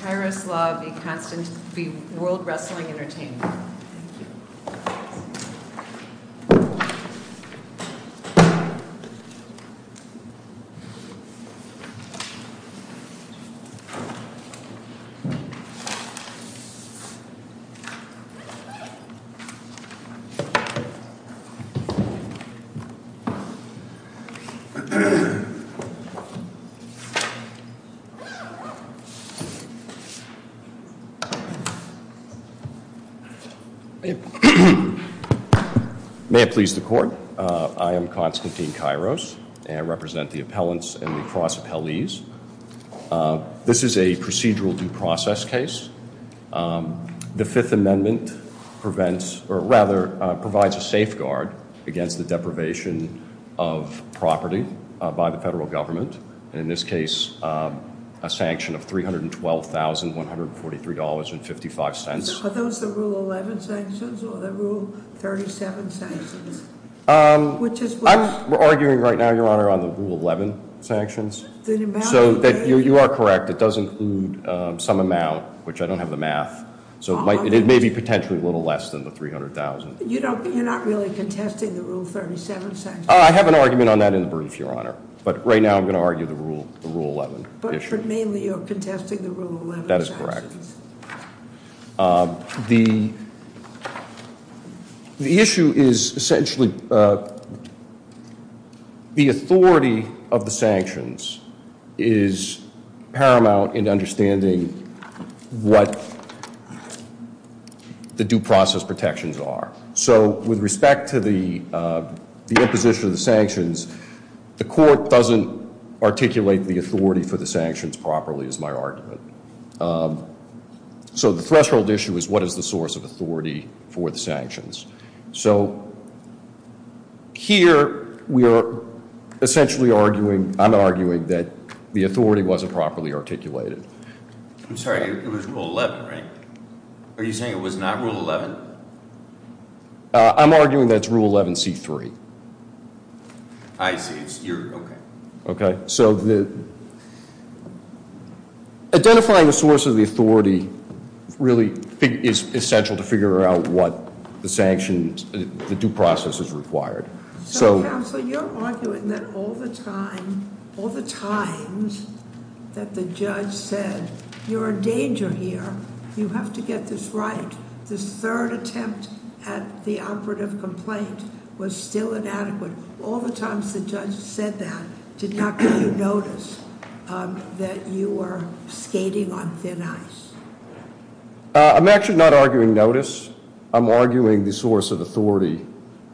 Kairos Law v. World Wrestling Entertainment May it please the court, I am Constantine Kairos and I represent the appellants and the cross appellees. This is a procedural due process case. The Fifth Amendment prevents or rather provides a safeguard against the deprivation of property by the federal government and in this case, a sanction of $312,143.55. Are those the Rule 11 sanctions or the Rule 37 sanctions? I'm arguing right now, Your Honor, on the Rule 11 sanctions. So you are correct, it does include some amount, which I don't have the math, so it may be potentially a little less than the $300,000. You're not really contesting the Rule 37 sanctions? I have an argument on that in the brief, Your Honor, but right now I'm going to argue the Rule 11. But mainly you're contesting the Rule 11 sanctions? That is correct. The issue is essentially the authority of the sanctions is paramount in understanding what the due process protections are. So with respect to the imposition of the sanctions, the court doesn't articulate the authority for the sanctions properly is my argument. So the threshold issue is what is the source of authority for the sanctions? So here we are essentially arguing, I'm arguing that the authority wasn't properly articulated. I'm sorry, it was Rule 11? I'm arguing that it's Rule 11C3. I see. Okay. So identifying the source of the authority really is essential to figure out what the sanctions, the due process is required. So counsel, you're arguing that all the time, all the times that the judge said, you're in danger here, you have to get this right, this third attempt at the operative complaint was still inadequate. All the times the judge said that did not give you notice that you were skating on thin ice? I'm actually not arguing notice. I'm arguing the source of authority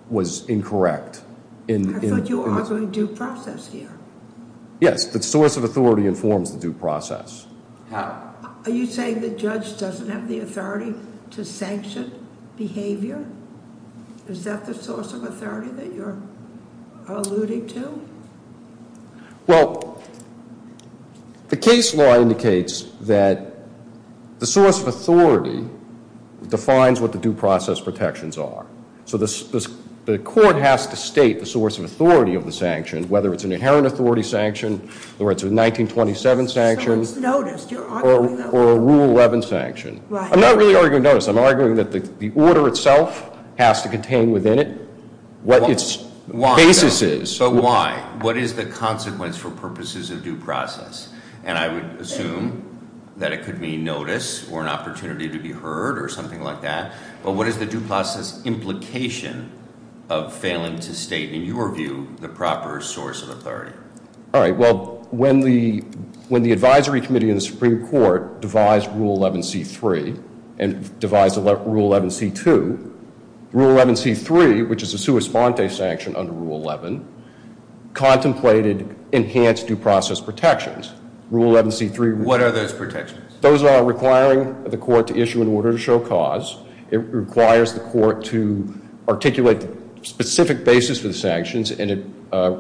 was incorrect. I thought you were arguing due process here? Yes, the source of authority informs the due process. Are you saying the judge doesn't have the authority to sanction behavior? Is that the source of authority that you're alluding to? Well, the case law indicates that the source of authority defines what the due process protections are. So the court has to state the source of authority of the sanctions, whether it's an inherent authority sanction, whether it's a 1927 sanction, or a Rule 11 sanction. I'm not really arguing notice. I'm arguing that the order itself has to contain within it what its basis is. So why? What is the consequence for purposes of due process? And I would assume that it could be notice or an opportunity to be heard or something like that. But what is the due process implication of failing to state, in your view, the proper source of authority? All right, well, when the advisory committee in the Supreme Court devised Rule 11c3 and devised Rule 11c2, Rule 11c3, which is a sua sponte sanction under Rule 11, contemplated enhanced due process protections. What are those protections? Those are requiring the court to articulate specific basis for the sanctions, and it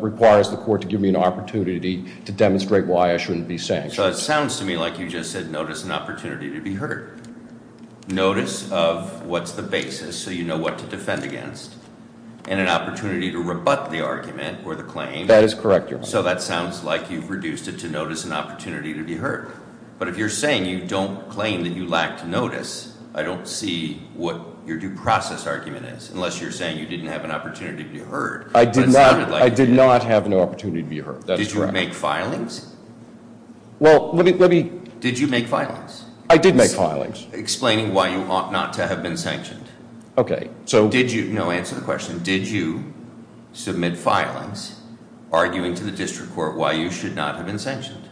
requires the court to give me an opportunity to demonstrate why I shouldn't be sanctioned. So it sounds to me like you just said notice and opportunity to be heard. Notice of what's the basis, so you know what to defend against, and an opportunity to rebut the argument or the claim. That is correct, Your Honor. So that sounds like you've reduced it to notice and opportunity to be heard. But if you're saying you don't claim that you lacked notice, I don't see what your due process argument is, unless you're saying you didn't have an opportunity to be heard. I did not have an opportunity to be heard. Did you make filings? Well, let me, let me. Did you make filings? I did make filings. Explaining why you ought not to have been sanctioned. Okay, so. Did you, no, answer the question. Did you submit filings arguing to the district court why you should not have been sanctioned?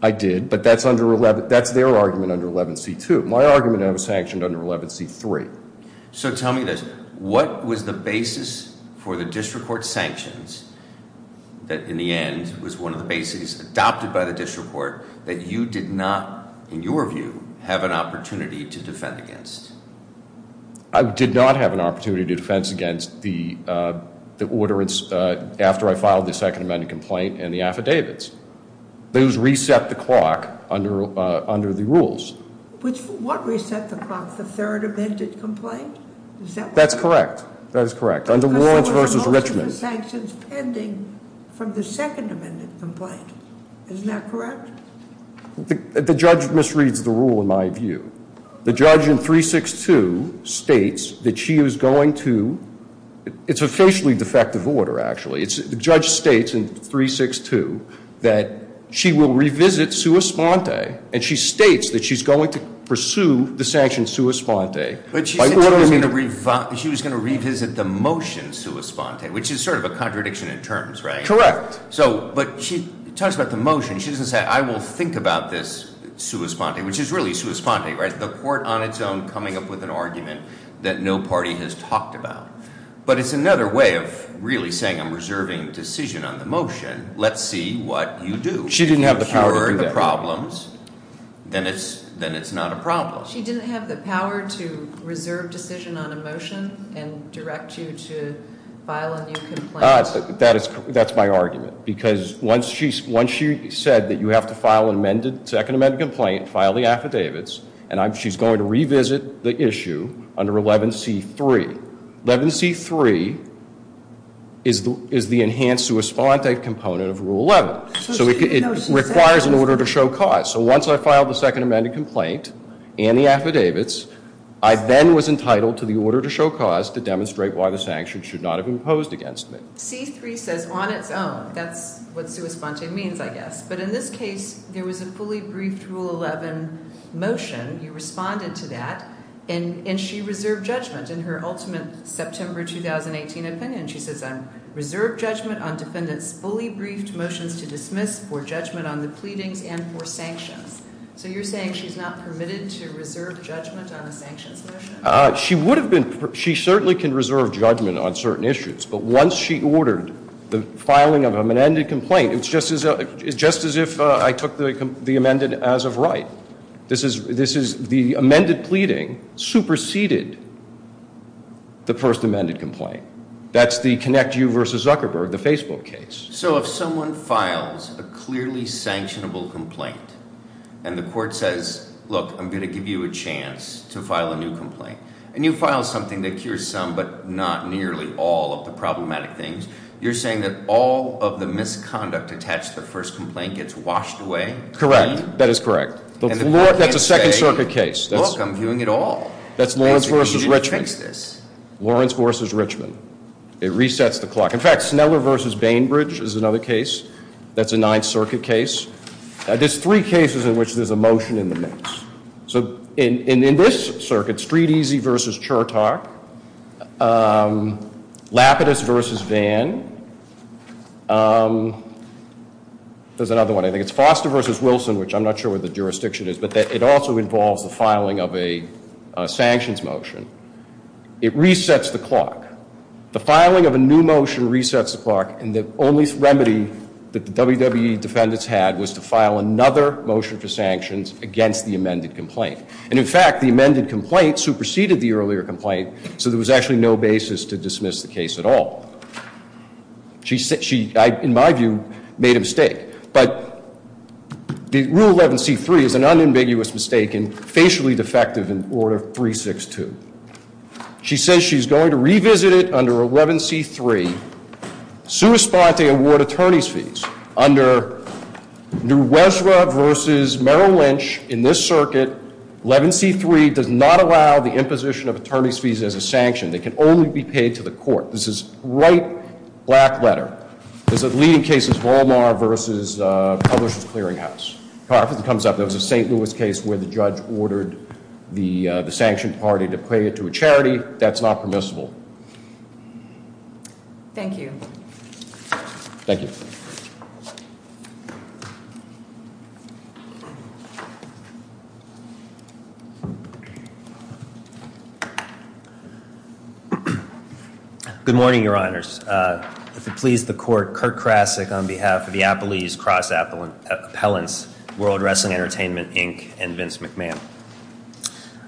I did, but that's under 11, that's their argument under 11c2. My argument I was sanctioned under 11c3. So tell me this, what was the basis for the district court sanctions that in the end was one of the bases adopted by the district court that you did not, in your view, have an opportunity to defend against? I did not have an opportunity to defense against the, the complaint and the affidavits. Those reset the clock under, under the rules. Which, what reset the clock? The third amended complaint? That's correct. That is correct. Under Lawrence v. Richmond. Because there was most of the sanctions pending from the second amended complaint. Isn't that correct? The judge misreads the rule in my view. The judge in 362 states that she is going to, it's a facially defective order actually, it's, the judge states in 362 that she will revisit sua sponte and she states that she's going to pursue the sanction sua sponte. But she said she was going to revisit the motion sua sponte, which is sort of a contradiction in terms, right? Correct. So, but she talks about the motion, she doesn't say I will think about this sua sponte, which is really sua sponte, right? The court on its own coming up with an argument that no party has talked about. But it's another way of really saying I'm reserving decision on the motion. Let's see what you do. She didn't have the power to do that. If you're the problems, then it's, then it's not a problem. She didn't have the power to reserve decision on a motion and direct you to file a new complaint? That is, that's my argument. Because once she, once she said that you have to file an amended, second amended complaint, file the affidavits, and I'm, she's going to revisit the issue, under 11C3. 11C3 is the enhanced sua sponte component of Rule 11. So it requires an order to show cause. So once I filed the second amended complaint and the affidavits, I then was entitled to the order to show cause to demonstrate why the sanction should not have imposed against me. 11C3 says on its own. That's what sua sponte means, I guess. But in this case, there was a fully briefed Rule 11 motion. You responded to that. And, and she reserved judgment. In her ultimate September 2018 opinion, she says I'm reserved judgment on defendants fully briefed motions to dismiss for judgment on the pleadings and for sanctions. So you're saying she's not permitted to reserve judgment on a sanctions motion? She would have been, she certainly can reserve judgment on certain issues. But once she ordered the filing of an amended complaint, it's just as, just as if I took the amended as of right. This is, this is the amended pleading superseded the first amended complaint. That's the Connect You vs. Zuckerberg, the Facebook case. So if someone files a clearly sanctionable complaint and the court says, look, I'm going to give you a chance to file a new complaint and you file something that cures some but not nearly all of the problematic things, you're saying that all of the misconduct attached to the first complaint gets washed away? Correct. That is correct. That's a second circuit case. That's Lawrence vs. Richmond. Lawrence vs. Richmond. It resets the clock. In fact, Sneller vs. Bainbridge is another case. That's a Ninth Circuit case. There's three cases in which there's a motion in the mix. So in this circuit, Street Easy vs. Chertok, Lapidus vs. Vann. There's another one, I think it's Foster vs. Wilson, which I'm not sure what the jurisdiction is, but it also involves the filing of a sanctions motion. It resets the clock. The filing of a new motion resets the clock, and the only remedy that the WWE defendants had was to file another motion for sanctions against the amended complaint. And in fact, the amended complaint superseded the earlier complaint, so there was actually no basis to dismiss the case at all. She, in my view, made a mistake. But Rule 11C3 is an unambiguous mistake and facially defective in Order 362. She says she's going to revisit it under 11C3, sui sponte award attorney's fees. Under Nuesra vs. Merrill Lynch, in this circuit, 11C3 does not allow the imposition of attorney's fees as a sanction. They can only be paid to the court. This is a bright black letter. This is a leading case of Walmart vs. Publishers Clearinghouse. If it comes up that it was a St. Louis case where the judge ordered the sanctioned party to pay it to a charity, that's not permissible. Thank you. Thank you. Good morning, Your Honors. If it please the Court, Kurt Krasick on behalf of the Appellees Cross Appellants, World Wrestling Entertainment, Inc., and Vince McMahon.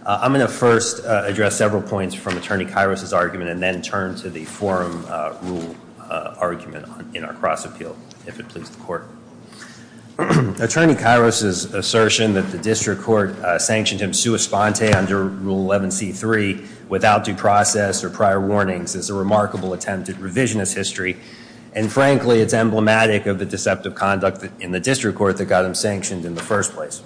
I'm going to first address several points from Attorney Kairos' argument and then turn to the forum rule argument in our cross appeal, if it pleases the Court. Attorney Kairos' assertion that the district court sanctioned him sui sponte under Rule 11C3 without due process or prior warnings is a remarkable attempt at revisionist history. And frankly, it's emblematic of the deceptive conduct in the district court that got him sanctioned in the first place.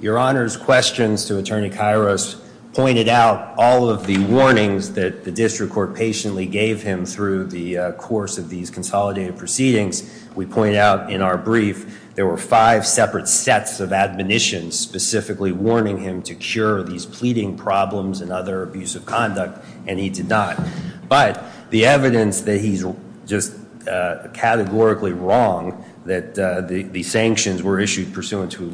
Your Honor's questions to Attorney Kairos pointed out all of the warnings that the district court patiently gave him through the course of these consolidated proceedings. We point out in our brief, there were five separate sets of admonitions specifically warning him to cure these pleading problems and other abusive conduct, and he did not. But the evidence that he's just categorically wrong that the sanctions were issued pursuant to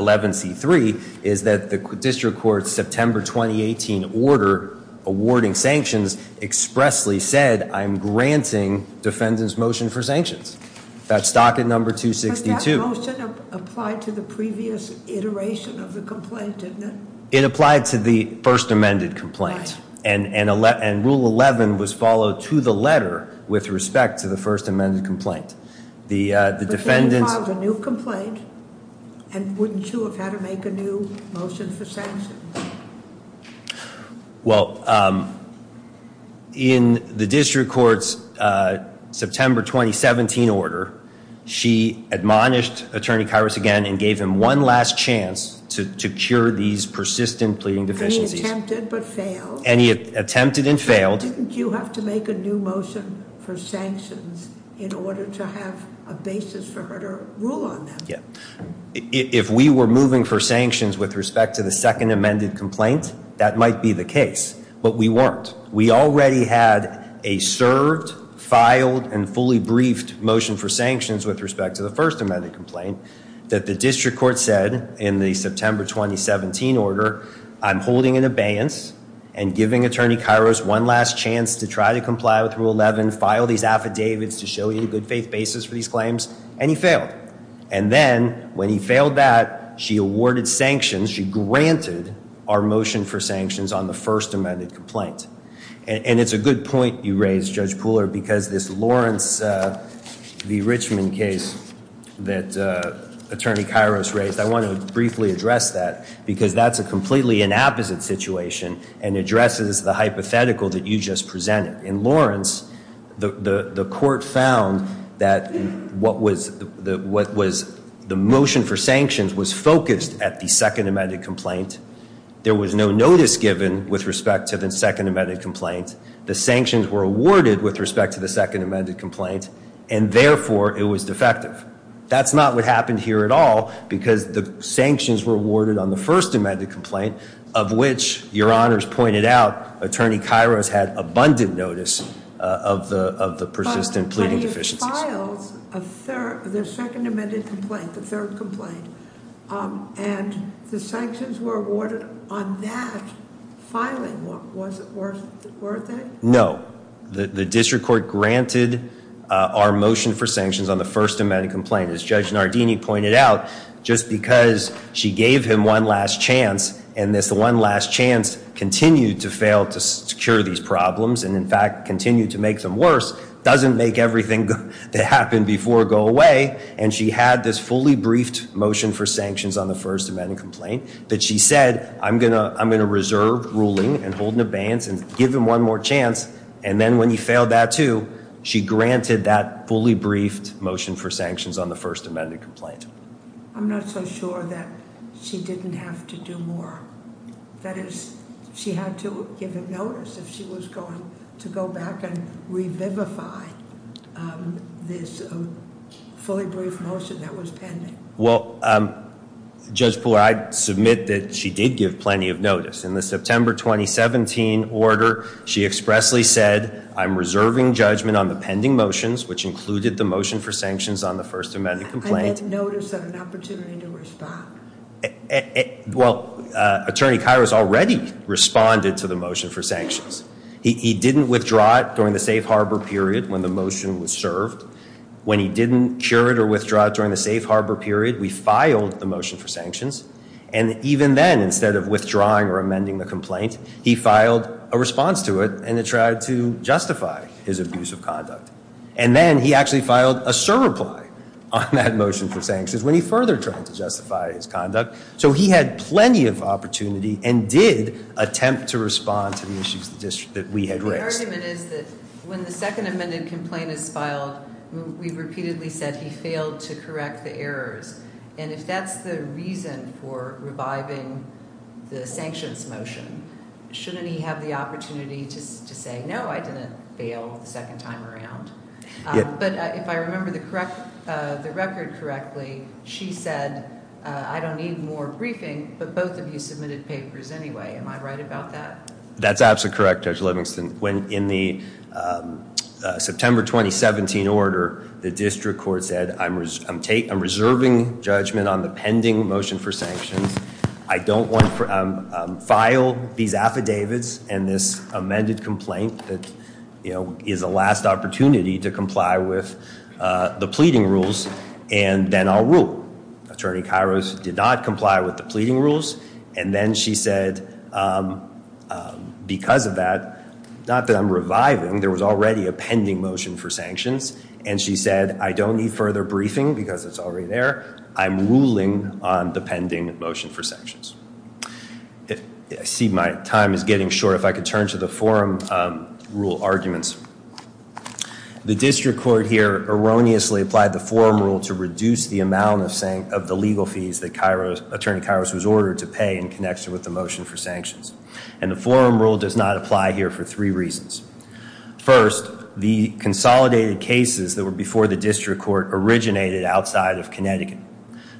11C3 is that the district court's September 2018 order awarding sanctions expressly said, I'm granting defendant's motion for sanctions. That's docket number 262. But that motion applied to the previous iteration of the complaint, didn't it? It applied to the first amended complaint. And Rule 11 was followed to the letter with respect to the first amended complaint. But then you filed a new complaint, and wouldn't you have had to make a new motion for sanctions? Well, in the district court's September 2017 order, she admonished Attorney Kairos again and gave him one last chance to cure these persistent pleading deficiencies. And he attempted but failed. And he attempted and failed. Didn't you have to make a new motion for sanctions in order to have a basis for her to rule on them? If we were moving for sanctions with respect to the second amended complaint, that might be the case. But we weren't. We already had a served, filed, and fully briefed motion for sanctions with respect to the first amended complaint that the district court said in the September 2017 order, I'm holding an abeyance and giving Attorney Kairos one last chance to try to comply with Rule 11, file these affidavits to show you a good faith basis for these claims. And he failed. And then when he failed that, she awarded sanctions, she granted our motion for sanctions on the first amended complaint. And it's a good point you raised, Judge Pooler, because this Lawrence v. Richmond case that Attorney Kairos raised, I want to briefly address that because that's a completely inapposite situation and addresses the hypothetical that you just presented. In Lawrence, the court found that the motion for sanctions was focused at the second amended complaint. There was no notice given with respect to the second amended complaint. The sanctions were awarded with respect to the second amended complaint, and therefore it was defective. That's not what happened here at all because the sanctions were awarded on the first amended complaint, of which, your honors pointed out, Attorney Kairos had abundant notice of the persistent pleading deficiencies. But he has filed the second amended complaint, the third complaint. And the sanctions were awarded on that filing. Was it worth it? No. The district court granted our motion for sanctions on the first amended complaint. And as Judge Nardini pointed out, just because she gave him one last chance, and this one last chance continued to fail to secure these problems and, in fact, continue to make them worse, doesn't make everything that happened before go away. And she had this fully briefed motion for sanctions on the first amended complaint that she said, I'm going to reserve ruling and hold an abeyance and give him one more chance. And then when he failed that too, she granted that fully briefed motion for sanctions on the first amended complaint. I'm not so sure that she didn't have to do more. That is, she had to give him notice if she was going to go back and revivify this fully briefed motion that was pending. Well, Judge Poole, I submit that she did give plenty of notice. In the September 2017 order, she expressly said, I'm reserving judgment on the pending motions, which included the motion for sanctions on the first amended complaint. I had notice of an opportunity to respond. Well, Attorney Kairos already responded to the motion for sanctions. He didn't withdraw it during the safe harbor period when the motion was served. When he didn't cure it or withdraw it during the safe harbor period, we filed the motion for sanctions. And even then, instead of withdrawing or amending the complaint, he filed a response to it and tried to justify his abuse of conduct. And then he actually filed a surreply on that motion for sanctions when he further tried to justify his conduct. So he had plenty of opportunity and did attempt to respond to the issues that we had raised. The argument is that when the second amended complaint is filed, we've repeatedly said he failed to correct the errors. And if that's the reason for reviving the sanctions motion, shouldn't he have the opportunity to say, no, I didn't fail the second time around? But if I remember the record correctly, she said, I don't need more briefing, but both of you submitted papers anyway. Am I right about that? That's absolutely correct, Judge Livingston. When in the September 2017 order, the district court said, I'm reserving judgment on the pending motion for sanctions. I don't want to file these affidavits and this amended complaint that is the last opportunity to comply with the pleading rules. And then I'll rule. Attorney Kairos did not comply with the pleading rules. And then she said, because of that, not that I'm reviving, there was already a pending motion for sanctions. And she said, I don't need further briefing because it's already there. I'm ruling on the pending motion for sanctions. I see my time is getting short. If I could turn to the forum rule arguments. The district court here erroneously applied the forum rule to reduce the amount of the legal fees that Attorney Kairos was ordered to pay in connection with the motion for sanctions. And the forum rule does not apply here for three reasons. First, the consolidated cases that were before the district court originated outside of Connecticut.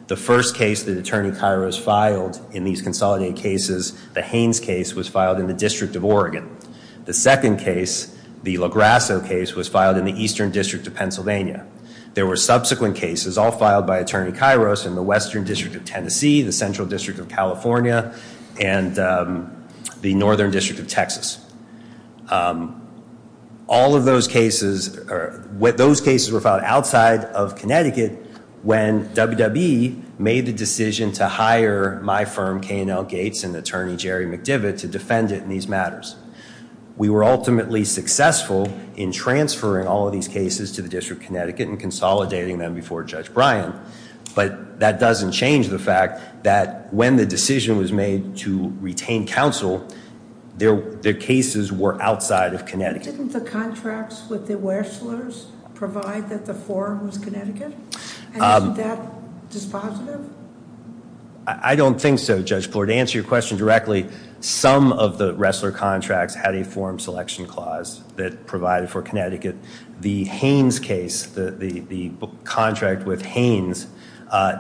The first case that Attorney Kairos filed in these consolidated cases, the Haines case, was filed in the District of Oregon. The second case, the LaGrasso case, was filed in the Eastern District of Pennsylvania. There were subsequent cases all filed by Attorney Kairos in the Western District of Tennessee, the Central District of California, and the Northern District of Texas. All of those cases were filed outside of Connecticut when WWE made the decision to hire my firm, K&L Gates, and Attorney Jerry McDivitt to defend it in these matters. We were ultimately successful in transferring all of these cases to the District of Connecticut and consolidating them before Judge Bryan. But that doesn't change the fact that when the decision was made to retain counsel, their cases were outside of Connecticut. Didn't the contracts with the wrestlers provide that the forum was Connecticut? And isn't that dispositive? I don't think so, Judge Bloor. To answer your question directly, some of the wrestler contracts had a forum selection clause that provided for Connecticut. The Haines case, the contract with Haines,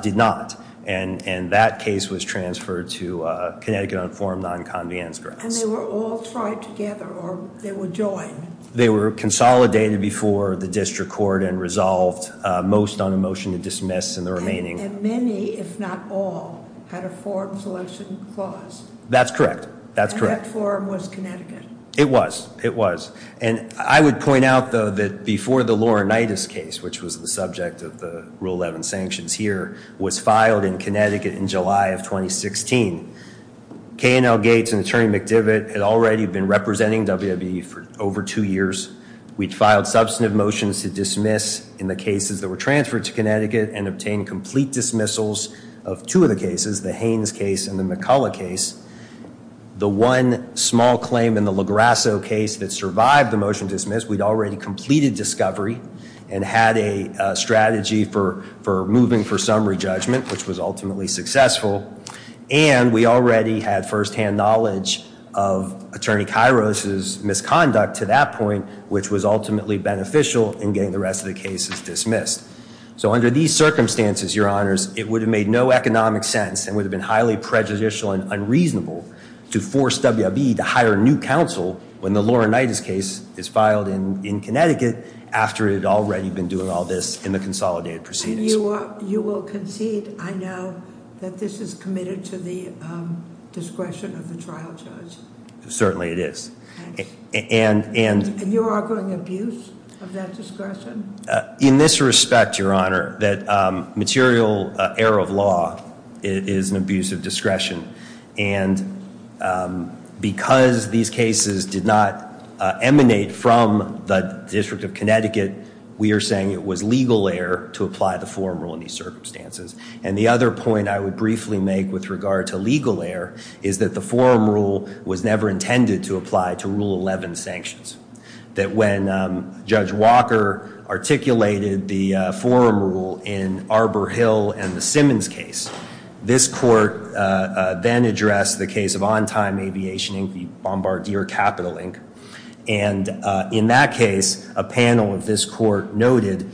did not. And that case was transferred to Connecticut on forum non-convenience grounds. And they were all tried together, or they were joined? They were consolidated before the District Court and resolved, most on a motion to dismiss and the remaining. And many, if not all, had a forum selection clause? That's correct, that's correct. And that forum was Connecticut? It was, it was. And I would point out, though, that before the Laurinaitis case, which was the subject of the Rule 11 sanctions here, was filed in Connecticut in July of 2016, K&L Gates and Attorney McDivitt had already been representing WWE for over two years. We'd filed substantive motions to dismiss in the cases that were transferred to Connecticut and obtained complete dismissals of two of the cases, the Haines case and the McCullough case. The one small claim in the LaGrasso case that survived the motion to dismiss, we'd already completed discovery and had a strategy for moving for summary judgment, which was ultimately successful. And we already had firsthand knowledge of Attorney Kairos' misconduct to that point, which was ultimately beneficial in getting the rest of the cases dismissed. So under these circumstances, Your Honors, it would have made no economic sense and would have been highly prejudicial and unreasonable to force WWE to hire a new counsel when the Laurinaitis case is filed in Connecticut after it had already been doing all this in the consolidated proceedings. And you will concede, I know, that this is committed to the discretion of the trial judge? Certainly it is. And you're arguing abuse of that discretion? In this respect, Your Honor, that material error of law is an abuse of discretion. And because these cases did not emanate from the District of Connecticut, we are saying it was legal error to apply the forum rule in these circumstances. And the other point I would briefly make with regard to legal error is that the forum rule was never intended to apply to Rule 11 sanctions. That when Judge Walker articulated the forum rule in Arbor Hill and the Simmons case, this court then addressed the case of On Time Aviation, the Bombardier Capital, Inc. And in that case, a panel of this court noted,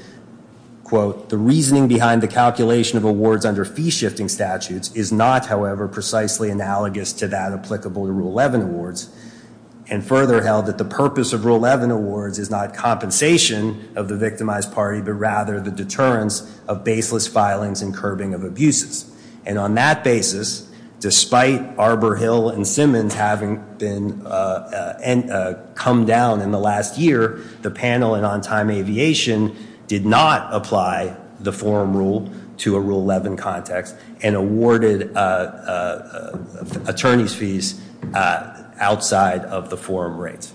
quote, the reasoning behind the calculation of awards under fee-shifting statutes is not, however, precisely analogous to that applicable to Rule 11 awards. And further held that the purpose of Rule 11 awards is not compensation of the victimized party, but rather the deterrence of baseless filings and curbing of abuses. And on that basis, despite Arbor Hill and Simmons having come down in the last year, the panel in On Time Aviation did not apply the forum rule to a Rule 11 context and awarded attorney's fees outside of the forum rates.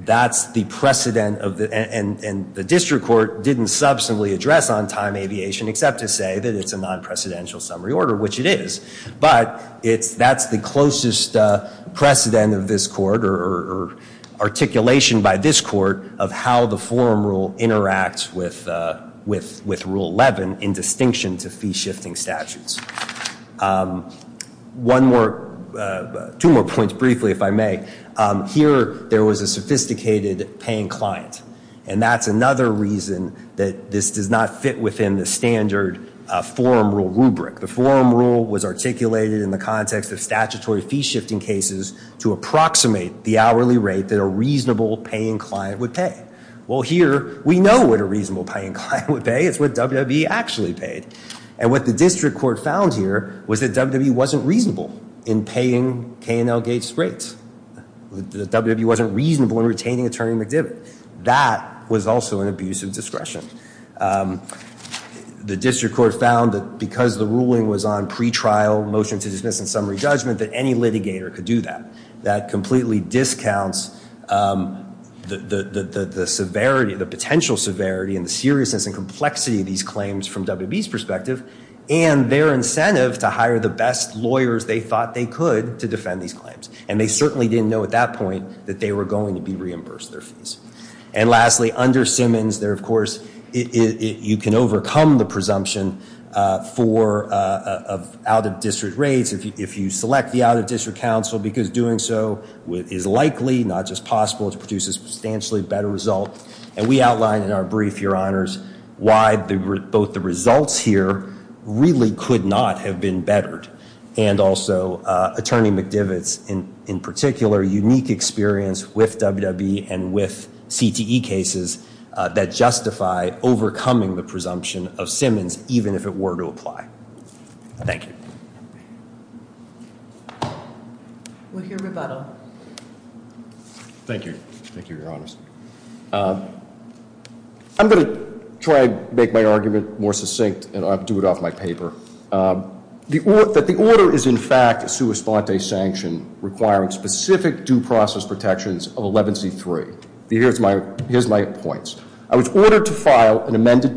That's the precedent, and the district court didn't substantively address On Time Aviation, except to say that it's a non-precedential summary order, which it is. But that's the closest precedent of this court or articulation by this court of how the forum rule interacts with Rule 11 in distinction to fee-shifting statutes. Two more points, briefly, if I may. Here, there was a sophisticated paying client. And that's another reason that this does not fit within the standard forum rule rubric. The forum rule was articulated in the context of statutory fee-shifting cases to approximate the hourly rate that a reasonable paying client would pay. Well, here, we know what a reasonable paying client would pay. It's what WWE actually paid. And what the district court found here was that WWE wasn't reasonable in paying K&L Gates rates. WWE wasn't reasonable in retaining Attorney McDivitt. That was also an abuse of discretion. The district court found that because the ruling was on pretrial motion to dismiss in summary judgment, that any litigator could do that. That completely discounts the severity, the potential severity, and the seriousness and complexity of these claims from WWE's perspective and their incentive to hire the best lawyers they thought they could to defend these claims. And they certainly didn't know at that point that they were going to be reimbursed their fees. And lastly, under Simmons, there, of course, you can overcome the presumption for out-of-district rates if you select the out-of-district counsel because doing so is likely, not just possible, to produce a substantially better result. And we outlined in our brief, Your Honors, why both the results here really could not have been bettered and also Attorney McDivitt's, in particular, unique experience with WWE and with CTE cases that justify overcoming the presumption of Simmons even if it were to apply. Thank you. We'll hear rebuttal. Thank you. Thank you, Your Honors. I'm going to try to make my argument more succinct and I'll do it off my paper. That the order is, in fact, a sua sponte sanction requiring specific due process protections of 11C3. Here's my points. I was ordered to file an amended plea.